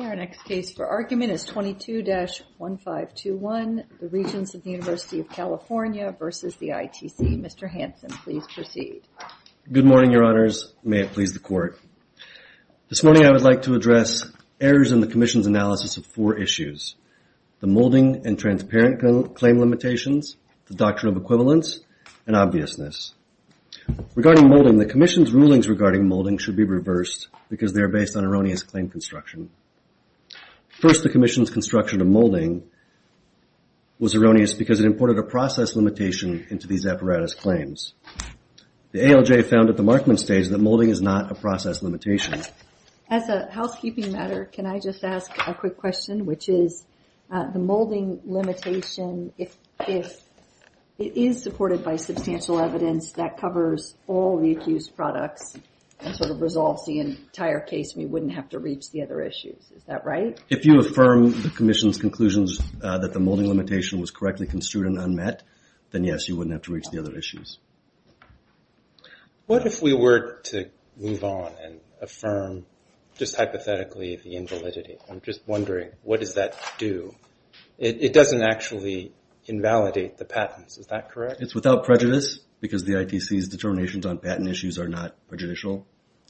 Our next case for argument is 22-1521, the Regents of the University of California versus the ITC. Mr. Hanson, please proceed. Good morning, your honors. May it please the court. This morning I would like to address errors in the commission's analysis of four issues. The molding and transparent claim limitations, the doctrine of equivalence, and obviousness. Regarding molding, the commission's rulings regarding molding should be reversed because they are based on erroneous claim construction. First, the commission's construction of molding was erroneous because it imported a process limitation into these apparatus claims. The ALJ found at the markman stage that molding is not a process limitation. As a housekeeping matter, can I just ask a quick question, which is the molding limitation, if it is supported by substantial evidence that covers all the accused products and sort of resolves the entire case, we wouldn't have to reach the other issues, is that right? If you affirm the commission's conclusions that the molding limitation was correctly construed and unmet, then yes, you wouldn't have to reach the other issues. What if we were to move on and affirm, just hypothetically, the invalidity? I'm just wondering, what does that do? It doesn't actually invalidate the patents, is that correct? It's without prejudice because the ITC's determinations on patent issues are not prejudicial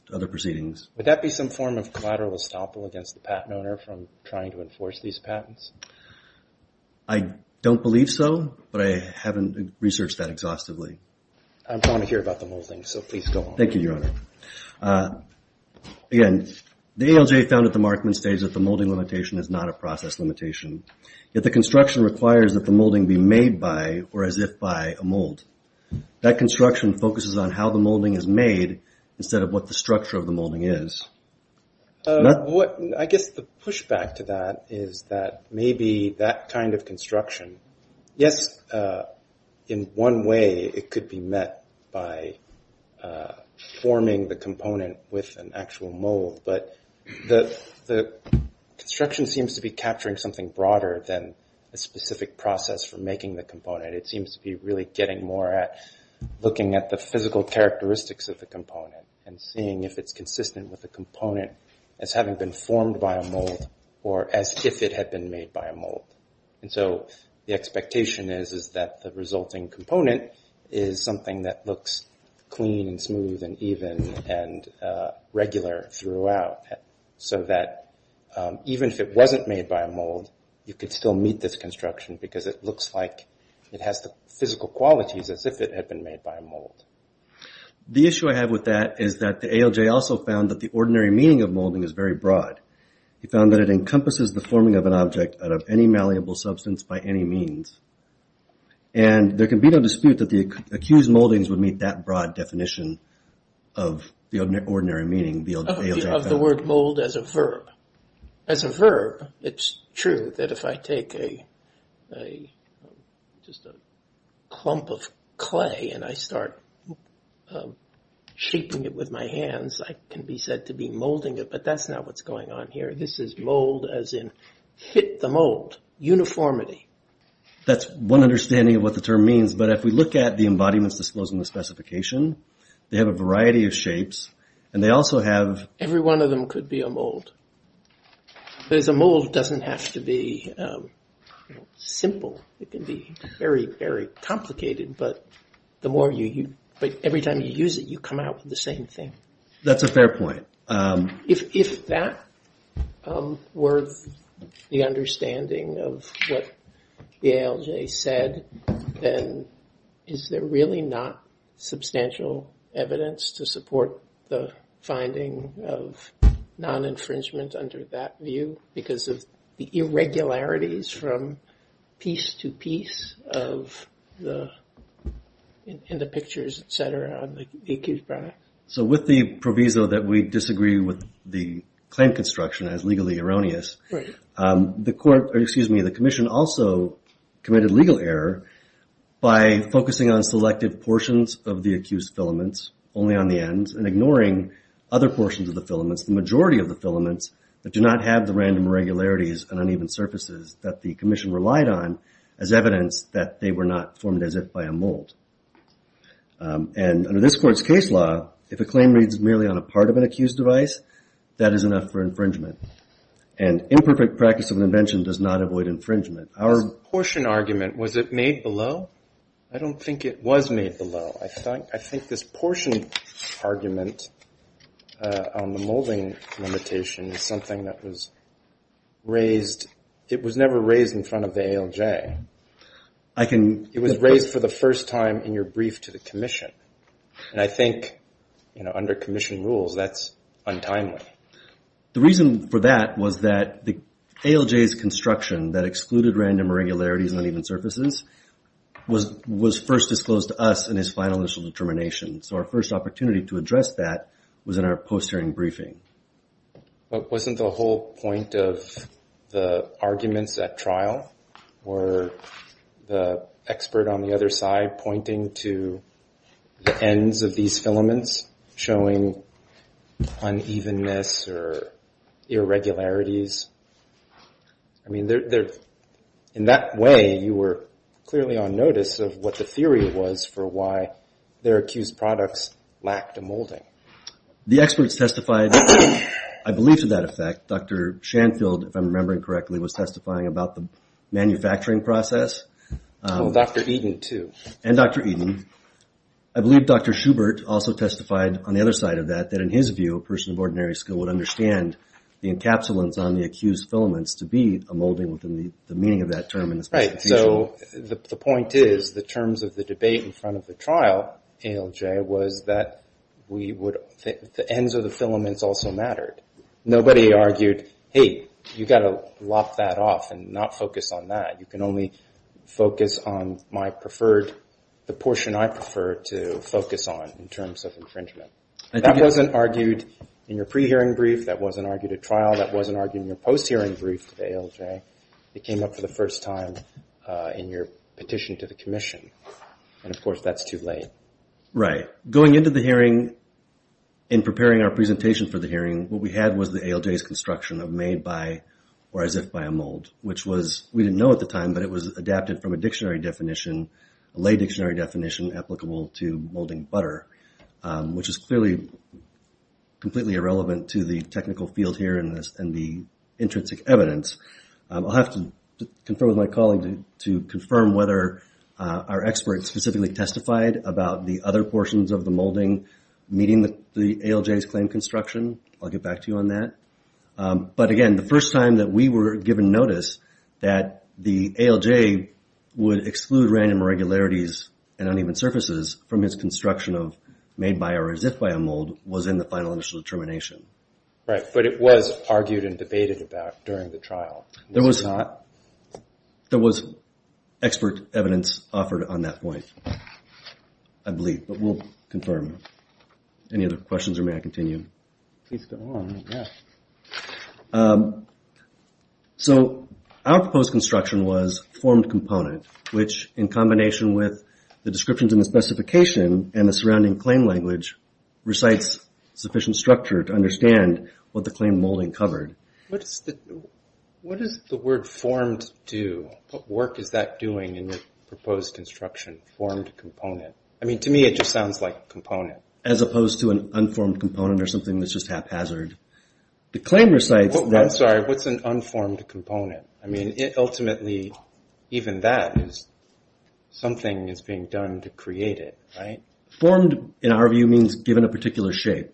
to other proceedings. Would that be some form of collateral estoppel against the patent owner from trying to enforce these patents? I don't believe so, but I haven't researched that exhaustively. I'm trying to hear about the molding, so please go on. Thank you, Your Honor. Again, the ALJ found at the markman stage that the molding limitation is not a process limitation, yet the construction requires that the molding be made by, or as if by, a mold. That construction focuses on how the molding is made instead of what the structure of the molding is. I guess the pushback to that is that maybe that kind of construction, yes, in one way it could be met by forming the component with an actual mold, but the construction seems to be capturing something broader than a specific process for making the component. It seems to be really getting more at looking at the physical characteristics of the component and seeing if it's consistent with the component as having been formed by a mold or as if it had been made by a mold. The expectation is that the resulting component is something that looks clean and smooth and even and regular throughout, so that even if it wasn't made by a mold, you could still meet this construction because it looks like it has the physical qualities as if it had been made by a mold. The issue I have with that is that the ALJ also found that the ordinary meaning of molding is very broad. He found that it encompasses the forming of an object out of any malleable substance by any means, and there can be no dispute that the accused moldings would meet that broad definition of the ordinary meaning the ALJ found. Of the word mold as a verb. As a verb, it's true that if I take just a clump of clay and I start shaping it with my hands, I can be said to be molding it, but that's not what's going on here. This is mold as in fit the mold, uniformity. That's one understanding of what the term means, but if we look at the embodiments disclosed in the specification, they have a variety of shapes, and they also have... Every one of them could be a mold. But as a mold, it doesn't have to be simple. It can be very, very complicated, but every time you use it, you come out with the same thing. That's a fair point. If that were the understanding of what the ALJ said, then is there really not substantial evidence to support the finding of non-infringement under that view because of the irregularities from piece to piece of the, in the pictures, et cetera, on the accused product? So with the proviso that we disagree with the claim construction as legally erroneous, the court, or excuse me, the commission also committed legal error by focusing on selective portions of the accused filaments, only on the ends, and ignoring other portions of the filaments, the majority of the filaments that do not have the random irregularities and uneven surfaces that the commission relied on as evidence that they were not formed as if by a mold. And under this court's case law, if a claim reads merely on a part of an accused device, that is enough for infringement. And imperfect practice of an invention does not avoid infringement. Our... This portion argument, was it made below? I don't think it was made below. I think this portion argument on the molding limitation is something that was raised, it was never raised in front of the ALJ. I can... It was raised for the first time in your brief to the commission. And I think, you know, under commission rules, that's untimely. The reason for that was that the ALJ's construction that excluded random irregularities and uneven surfaces was first disclosed to us in his final initial determination. So our first opportunity to address that was in our post-hearing briefing. But wasn't the whole point of the arguments at trial, or the expert on the other side pointing to the ends of these filaments, showing unevenness or irregularities? I mean, there... In that way, you were clearly on notice of what the theory was for why their accused products lacked a molding. The experts testified, I believe to that effect, Dr. Shanfield, if I'm remembering correctly, was testifying about the manufacturing process. Oh, Dr. Eden, too. And Dr. Eden. I believe Dr. Schubert also testified on the other side of that, that in his view, a person of ordinary skill would understand the encapsulants on the accused filaments to be a molding within the meaning of that term in this particular case. Right, so the point is, the terms of the debate in front of the trial, ALJ, was that the ends of the filaments also mattered. Nobody argued, hey, you gotta lock that off and not focus on that. You can only focus on my preferred, the portion I prefer to focus on in terms of infringement. That wasn't argued in your pre-hearing brief. That wasn't argued at trial. That wasn't argued in your post-hearing brief to the ALJ. It came up for the first time in your petition to the commission. And of course, that's too late. Right, going into the hearing, in preparing our presentation for the hearing, what we had was the ALJ's construction of made by or as if by a mold, which was, we didn't know at the time, but it was adapted from a dictionary definition, a lay dictionary definition applicable to molding butter, which is clearly completely irrelevant to the technical field here and the intrinsic evidence. I'll have to confirm with my colleague to confirm whether our experts specifically testified about the other portions of the molding meeting the ALJ's claimed construction. I'll get back to you on that. But again, the first time that we were given notice that the ALJ would exclude random irregularities and uneven surfaces from its construction of made by or as if by a mold was in the final initial determination. Right, but it was argued and debated about during the trial. There was not, there was expert evidence offered on that point, I believe, but we'll confirm. Any other questions or may I continue? Please go on, yeah. So our proposed construction was formed component, which in combination with the descriptions in the specification and the surrounding claim language recites sufficient structure to understand what the claim molding covered. What does the word formed do? What work is that doing in the proposed construction, formed component? I mean, to me, it just sounds like component. As opposed to an unformed component or something that's just haphazard. The claim recites that. I'm sorry, what's an unformed component? I mean, it ultimately, even that is, something is being done to create it, right? Formed, in our view, means given a particular shape.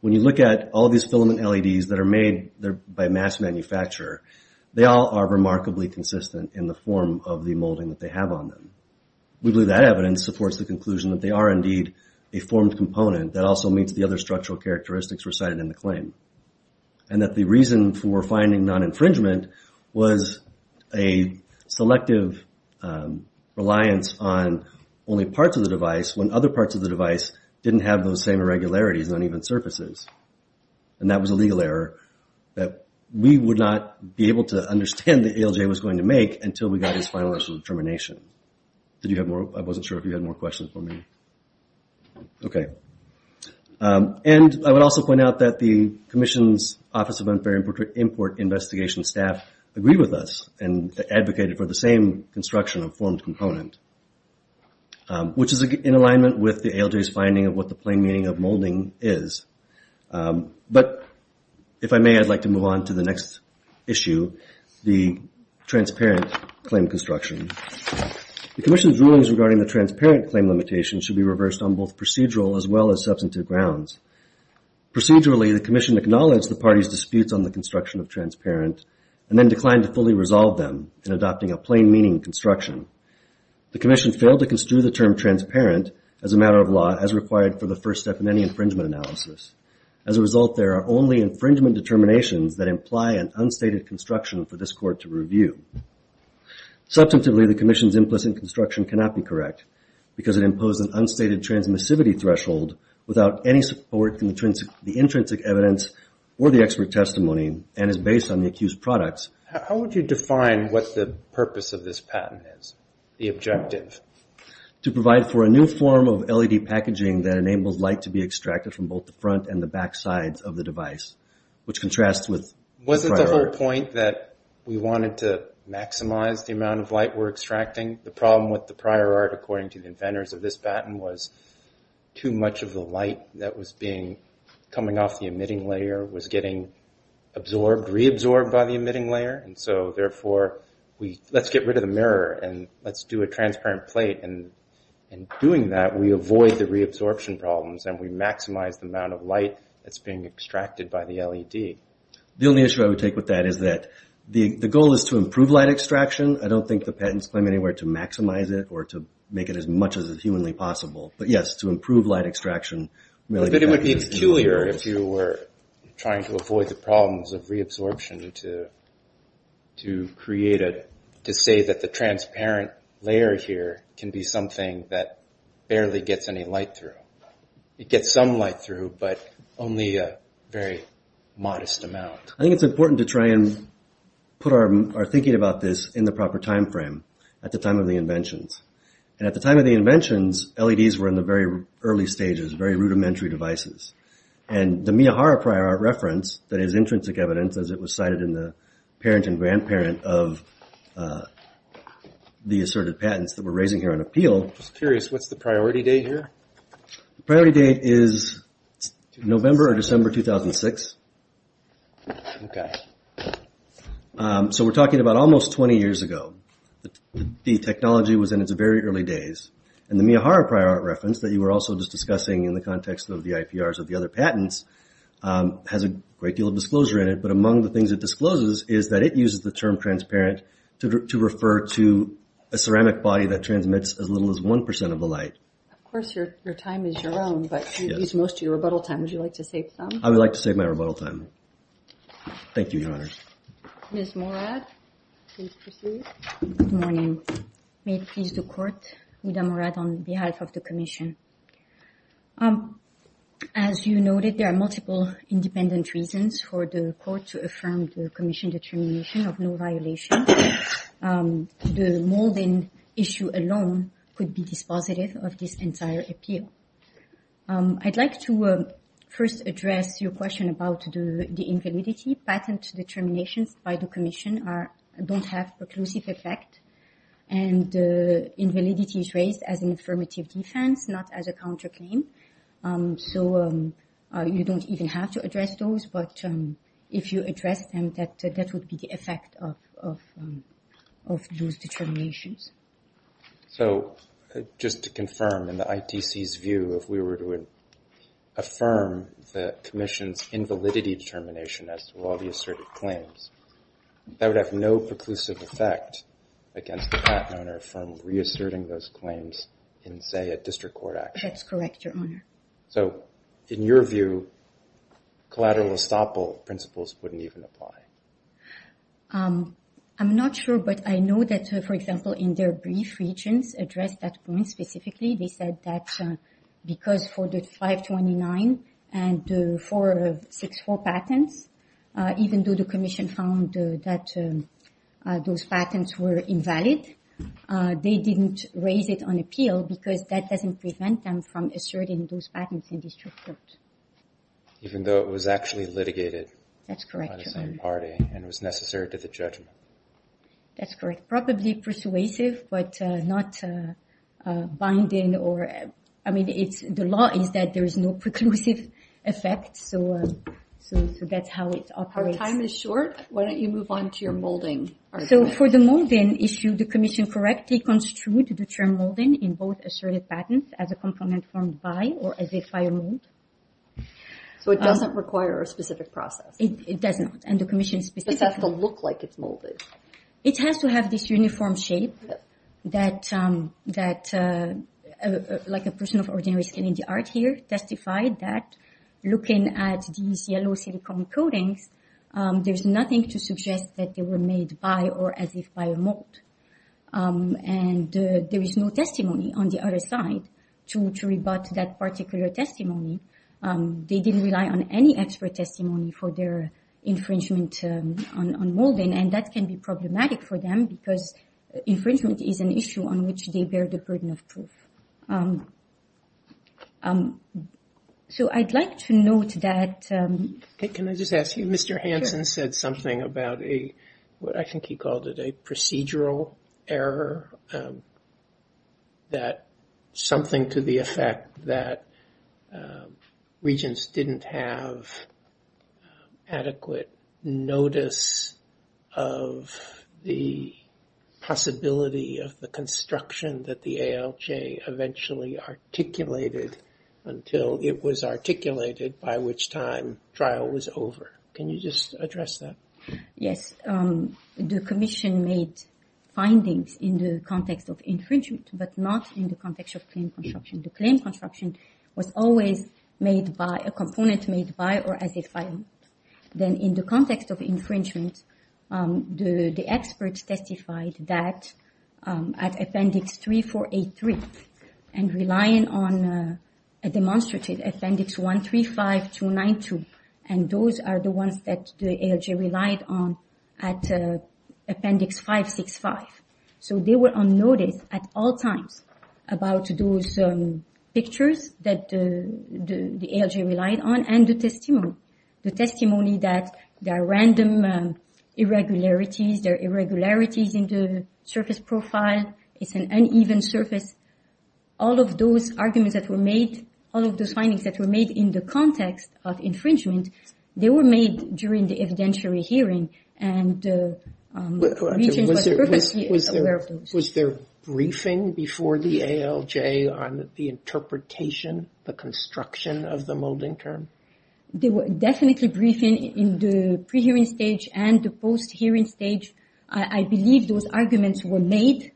When you look at all these filament LEDs that are made by mass manufacturer, they all are remarkably consistent in the form of the molding that they have on them. We believe that evidence supports the conclusion that they are indeed a formed component that also meets the other structural characteristics recited in the claim. And that the reason for finding non-infringement was a selective reliance on only parts of the device when other parts of the device didn't have those same irregularities on even surfaces. And that was a legal error that we would not be able to understand that ALJ was going to make until we got his final rational determination. Did you have more? I wasn't sure if you had more questions for me. Okay. And I would also point out that the Commission's Office of Unfair Import Investigation staff agreed with us and advocated for the same construction of formed component. Which is in alignment with the ALJ's finding of what the plain meaning of molding is. But if I may, I'd like to move on to the next issue, the transparent claim construction. The Commission's rulings regarding the transparent claim limitation should be reversed on both procedural as well as substantive grounds. Procedurally, the Commission acknowledged the party's disputes on the construction of transparent and then declined to fully resolve them in adopting a plain meaning construction. The Commission failed to construe the term transparent as a matter of law as required for the first step in any infringement analysis. As a result, there are only infringement determinations that imply an unstated construction for this court to review. Substantively, the Commission's implicit construction cannot be correct because it imposed an unstated transmissivity threshold without any support from the intrinsic evidence or the expert testimony and is based on the accused products. How would you define what the purpose of this patent is, the objective? To provide for a new form of LED packaging that enables light to be extracted from both the front and the back sides of the device, which contrasts with the prior. Wasn't the whole point that we wanted to maximize the amount of light we're extracting? The problem with the prior art, according to the inventors of this patent, was too much of the light that was being, coming off the emitting layer was getting absorbed, reabsorbed by the emitting layer. And so, therefore, let's get rid of the mirror and let's do a transparent plate. And in doing that, we avoid the reabsorption problems and we maximize the amount of light that's being extracted by the LED. The only issue I would take with that is that the goal is to improve light extraction. I don't think the patents claim anywhere to maximize it or to make it as much as humanly possible. But yes, to improve light extraction. I bet it would be peculiar if you were trying to avoid the problems of reabsorption to create a, to say that the transparent layer here can be something that barely gets any light through. It gets some light through, but only a very modest amount. I think it's important to try and put our thinking about this in the proper timeframe at the time of the inventions. And at the time of the inventions, LEDs were in the very early stages, very rudimentary devices. And the Miyahara prior art reference that is intrinsic evidence as it was cited in the parent and grandparent of the asserted patents that we're raising here on appeal. I'm just curious, what's the priority date here? The priority date is November or December 2006. Okay. So we're talking about almost 20 years ago. The technology was in its very early days. And the Miyahara prior art reference that you were also just discussing in the context of the IPRs of the other patents has a great deal of disclosure in it. But among the things that discloses is that it uses the term transparent to refer to a ceramic body that transmits as little as 1% of the light. Of course, your time is your own, but you've used most of your rebuttal time. Would you like to save some? I would like to save my rebuttal time. Thank you, Your Honor. Ms. Morad, please proceed. Good morning. May it please the court, Uda Morad on behalf of the commission. As you noted, there are multiple independent reasons for the court to affirm the commission determination of no violation. The molding issue alone could be dispositive of this entire appeal. I'd like to first address your question about the invalidity. Patent determinations by the commission don't have preclusive effect. And the invalidity is raised as an affirmative defense, not as a counterclaim. So you don't even have to address those, but if you address them, that would be the effect of those determinations. So just to confirm in the ITC's view, if we were to affirm the commission's invalidity determination as to all the asserted claims, that would have no preclusive effect against the patent owner from reasserting those claims in, say, a district court action. That's correct, Your Honor. So in your view, collateral estoppel principles wouldn't even apply. I'm not sure, but I know that, for example, in their brief regions addressed that point specifically, they said that because for the 529 and the 464 patents, even though the commission found that those patents were invalid, they didn't raise it on appeal because that doesn't prevent them from asserting those patents in district court. Even though it was actually litigated by the same party. That's correct, Your Honor. And it was necessary to the judgment. That's correct. Probably persuasive, but not binding or, I mean, the law is that there is no preclusive effect, so that's how it operates. Our time is short. Why don't you move on to your molding argument? So for the molding issue, the commission correctly construed the term molding in both asserted patents as a complement formed by or as a final rule. So it doesn't require a specific process. It does not, and the commission specifically- But it has to look like it's molded. It has to have this uniform shape that, like a person of ordinary skin in the art here, testified that, looking at these yellow silicone coatings, there's nothing to suggest that they were made by or as if by a mold. And there is no testimony on the other side to rebut that particular testimony. They didn't rely on any expert testimony for their infringement on molding, and that can be problematic for them because infringement is an issue on which they bear the burden of proof. So I'd like to note that- Can I just ask you, Mr. Hansen said something about a, what I think he called it, a procedural error, that something to the effect that regents didn't have adequate notice of the possibility of the construction that the ALJ eventually articulated until it was articulated, by which time trial was over. Can you just address that? Yes, the commission made findings in the context of infringement, but not in the context of claim construction. The claim construction was always made by, a component made by or as if by a mold. Then in the context of infringement, the experts testified that at Appendix 3483, and relying on a demonstrative Appendix 135292, and those are the ones that the ALJ relied on at Appendix 565. So they were on notice at all times about those pictures that the ALJ relied on, and the testimony. The testimony that there are random irregularities, there are irregularities in the surface profile, it's an uneven surface. All of those arguments that were made, all of those findings that were made in the context of infringement, they were made during the evidentiary hearing, and the regents were perfectly aware of those. Was there briefing before the ALJ on the interpretation, the construction of the molding term? There were definitely briefing in the pre-hearing stage and the post-hearing stage. I believe those arguments were made.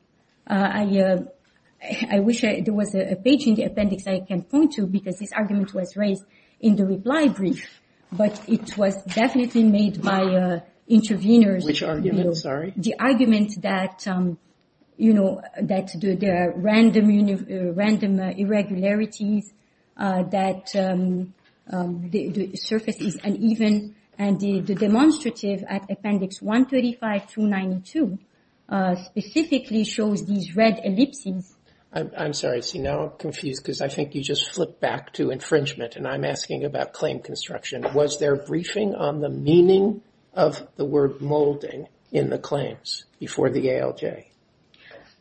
I wish there was a page in the appendix I can point to, because this argument was raised in the reply brief, but it was definitely made by intervenors. Which argument, sorry? The argument that, you know, that there are random irregularities, that the surface is uneven, and the demonstrative at appendix 135 through 92 specifically shows these red ellipses. I'm sorry, I see now I'm confused, because I think you just flipped back to infringement, and I'm asking about claim construction. Was there briefing on the meaning of the word molding in the claims before the ALJ?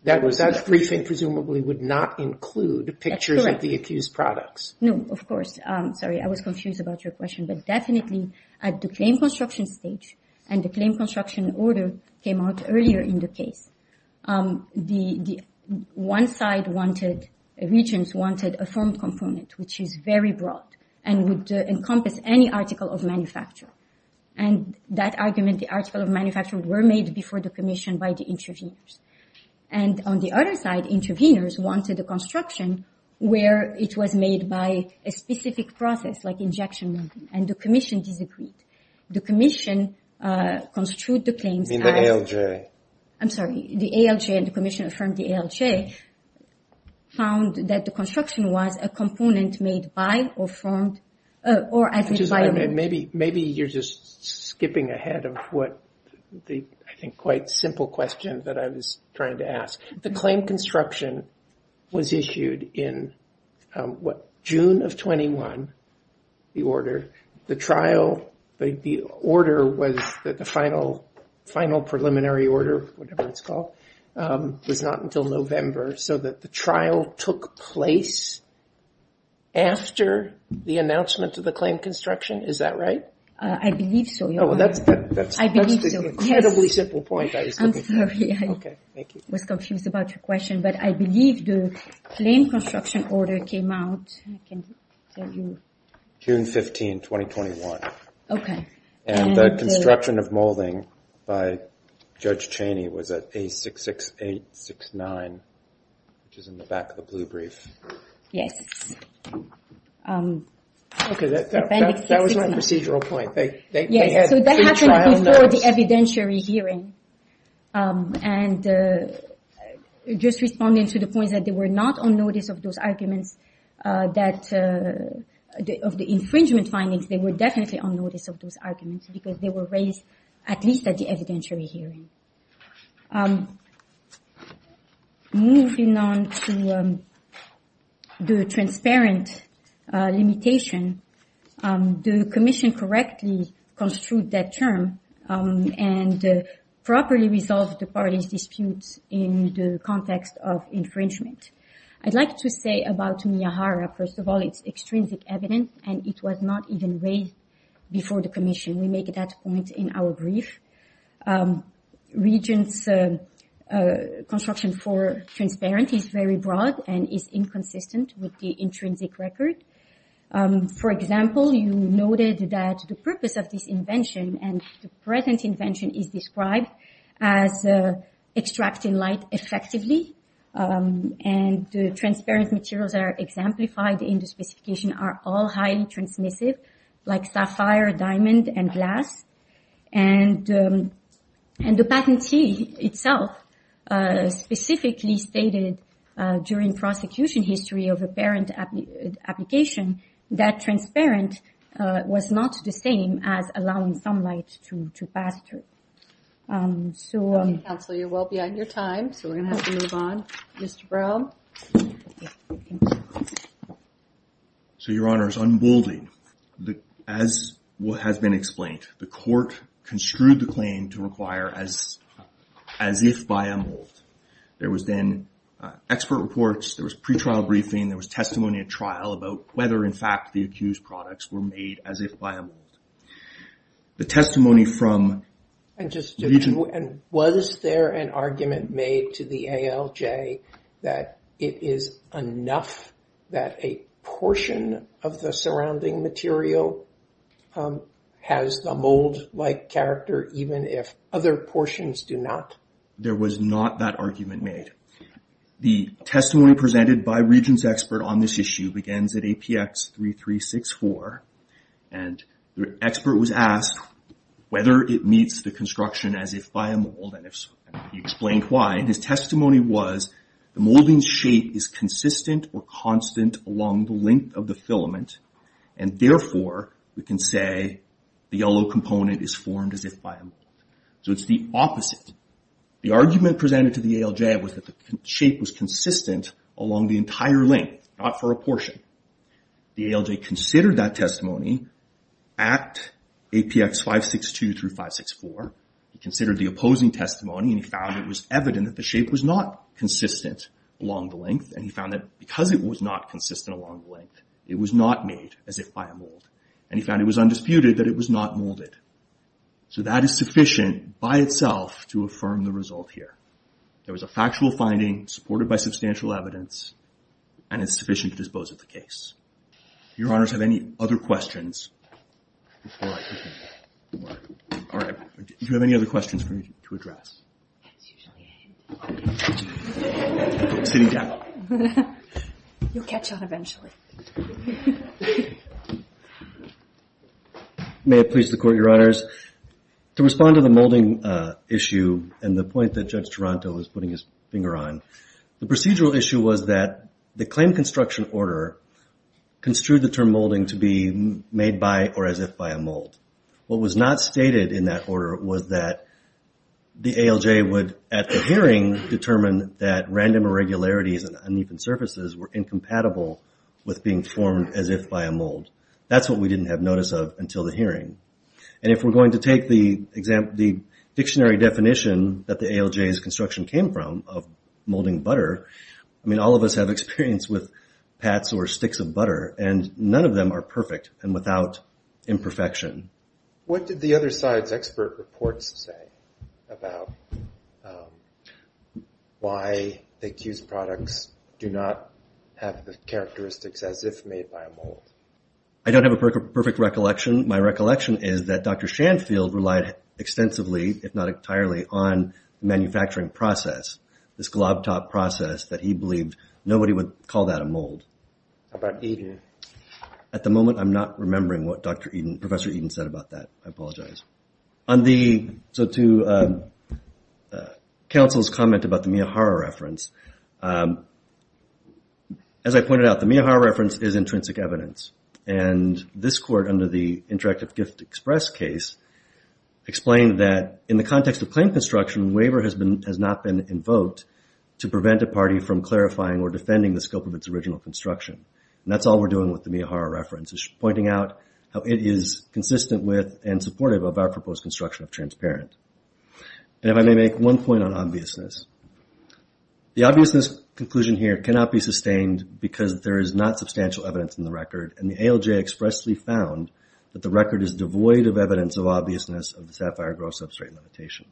That was, that briefing presumably would not include the pictures of the accused products. No, of course. Sorry, I was confused about your question, but definitely at the claim construction stage, and the claim construction order came out earlier in the case. One side wanted, regions wanted a firm component, which is very broad, and would encompass any article of manufacture. And that argument, the article of manufacture, were made before the commission by the intervenors. And on the other side, intervenors wanted a construction where it was made by a specific process, like injection molding, and the commission disagreed. The commission construed the claims as... In the ALJ. I'm sorry, the ALJ and the commission of the ALJ found that the construction was a component made by or from, or as a... Maybe you're just skipping ahead of what the, I think, quite simple question that I was trying to ask. The claim construction was issued in, what, June of 21, the order. The trial, the order was that the final, final preliminary order, whatever it's called, was not until November, so that the trial took place after the announcement of the claim construction. Is that right? I believe so, Your Honor. Oh, well, that's the incredibly simple point I was looking for. I'm sorry, I was confused about your question, but I believe the claim construction order came out, I can tell you. June 15, 2021. Okay. And the construction of molding by Judge Cheney was at A66869, which is in the back of the blue brief. Yes. Okay, that was my procedural point. They had three trial notes. Before the evidentiary hearing. And just responding to the point that they were not on notice of those arguments that, of the infringement findings, they were definitely on notice of those arguments because they were raised at least at the evidentiary hearing. Moving on to the transparent limitation, the commission correctly construed that term and properly resolved the parties' disputes in the context of infringement. I'd like to say about Miyahara, first of all, it's extrinsic evidence, and it was not even raised before the commission. We make that point in our brief. Regent's construction for transparency is very broad and is inconsistent with the intrinsic record. For example, you noted that the purpose of this invention and the present invention is described as extracting light effectively. And the transparent materials that are exemplified in the specification are all highly transmissive, like sapphire, diamond, and glass. And the patentee itself specifically stated during prosecution history of apparent application that transparent was not the same as allowing some light to pass through. Counsel, you're well beyond your time, so we're gonna have to move on. Mr. Brown. So, Your Honor, it's unbolding. As has been explained, the court construed the claim to require as if by a mold. There was then expert reports, there was pre-trial briefing, there was testimony at trial about whether, in fact, the accused products were made as if by a mold. The testimony from Regent... And was there an argument made to the ALJ that it is enough that a portion of the surrounding material has the mold-like character even if other portions do not? There was not that argument made. The testimony presented by Regent's expert on this issue begins at APX3364, and the expert was asked whether it meets the construction as if by a mold, and he explained why. His testimony was the molding shape is consistent or constant along the length of the filament, and therefore, we can say the yellow component is formed as if by a mold. So it's the opposite. The argument presented to the ALJ was that the shape was consistent along the entire length, not for a portion. The ALJ considered that testimony at APX562 through 564. He considered the opposing testimony, and he found it was evident that the shape was not consistent along the length, and he found that because it was not consistent along the length, it was not made as if by a mold, and he found it was undisputed that it was not molded. So that is sufficient by itself to affirm the result here. There was a factual finding supported by substantial evidence, and it's sufficient to dispose of the case. Your Honors, have any other questions? All right, do you have any other questions for me to address? That's usually him. Okay. Sitting down. You'll catch on eventually. Okay. May it please the Court, Your Honors. To respond to the molding issue and the point that Judge Taranto is putting his finger on, the procedural issue was that the claim construction order construed the term molding to be made by or as if by a mold. What was not stated in that order was that the ALJ would, at the hearing, determine that random irregularities and uneven surfaces were incompatible with being formed as if by a mold. That's what we didn't have notice of until the hearing. And if we're going to take the dictionary definition that the ALJ's construction came from of molding butter, I mean, all of us have experience with pats or sticks of butter, and none of them are perfect and without imperfection. What did the other side's expert reports say about why the accused products do not have the characteristics as if made by a mold? I don't have a perfect recollection. My recollection is that Dr. Shanfield relied extensively, if not entirely, on the manufacturing process, this glob-top process that he believed nobody would call that a mold. How about Eden? At the moment, I'm not remembering what Professor Eden said about that. I apologize. So to counsel's comment about the Miyahara reference, as I pointed out, the Miyahara reference is intrinsic evidence. And this court, under the Interactive Gift Express case, explained that in the context of plain construction, waiver has not been invoked to prevent a party from clarifying or defending the scope of its original construction. And that's all we're doing with the Miyahara reference, is pointing out how it is consistent with and supportive of our proposed construction of transparent. And if I may make one point on obviousness. The obviousness conclusion here cannot be sustained because there is not substantial evidence in the record. And the ALJ expressly found that the record is devoid of evidence of obviousness of the SAFIRE growth substrate limitation.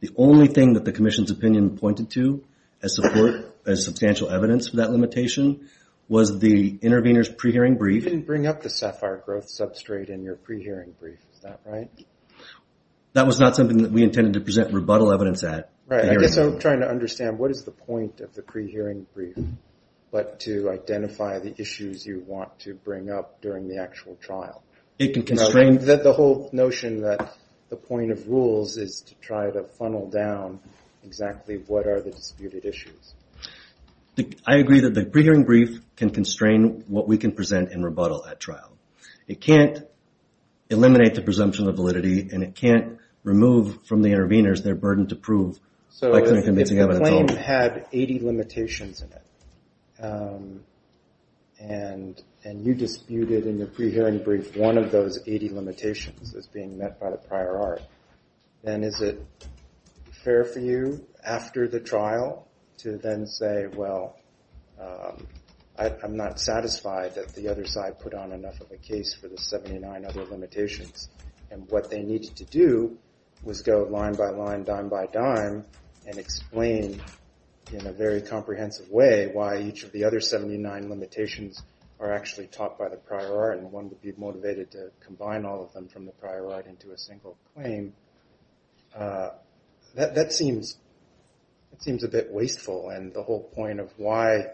The only thing that the commission's opinion pointed to as support, as substantial evidence for that limitation, was the intervener's pre-hearing brief. You didn't bring up the SAFIRE growth substrate in your pre-hearing brief, is that right? That was not something that we intended to present rebuttal evidence at. Right, I guess I'm trying to understand what is the point of the pre-hearing brief, but to identify the issues you want to bring up during the actual trial. It can constrain- The whole notion that the point of rules is to try to funnel down exactly what are the disputed issues. I agree that the pre-hearing brief can constrain what we can present in rebuttal at trial. It can't eliminate the presumption of validity and it can't remove from the interveners their burden to prove by convincing evidence only. If the claim had 80 limitations in it, and you disputed in the pre-hearing brief one of those 80 limitations that's being met by the prior art, then is it fair for you after the trial to then say, well, I'm not satisfied that the other side put on enough of a case for the 79 other limitations, and what they needed to do was go line by line, dime by dime, and explain in a very comprehensive way why each of the other 79 limitations are actually taught by the prior art and one would be motivated to combine all of them from the prior art into a single claim. That seems a bit wasteful, and the whole point of why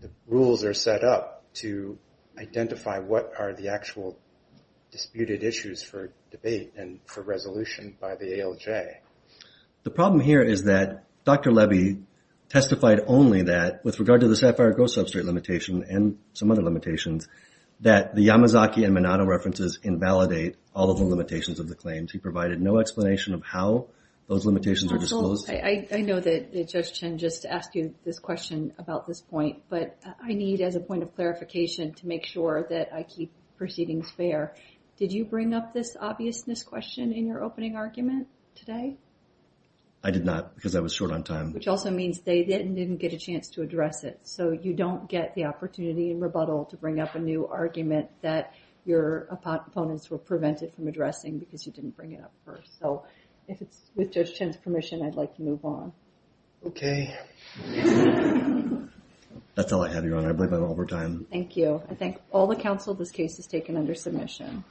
the rules are set up to identify what are the actual disputed issues for debate and for resolution by the ALJ. The problem here is that Dr. Levy testified only that with regard to the SAFIRE ghost substrate limitation and some other limitations that the Yamazaki and Minato references invalidate all of the limitations of the claims. He provided no explanation of how those limitations are disclosed. I know that Judge Chen just asked you this question about this point, but I need, as a point of clarification, to make sure that I keep proceedings fair. Did you bring up this obviousness question in your opening argument today? I did not, because I was short on time. Which also means they didn't get a chance to address it, so you don't get the opportunity in rebuttal to bring up a new argument that your opponents were prevented from addressing because you didn't bring it up first, so if it's with Judge Chen's permission, I'd like to move on. Okay. That's all I have, Your Honor. I believe I have all the time. Thank you. I thank all the counsel this case has taken under submission.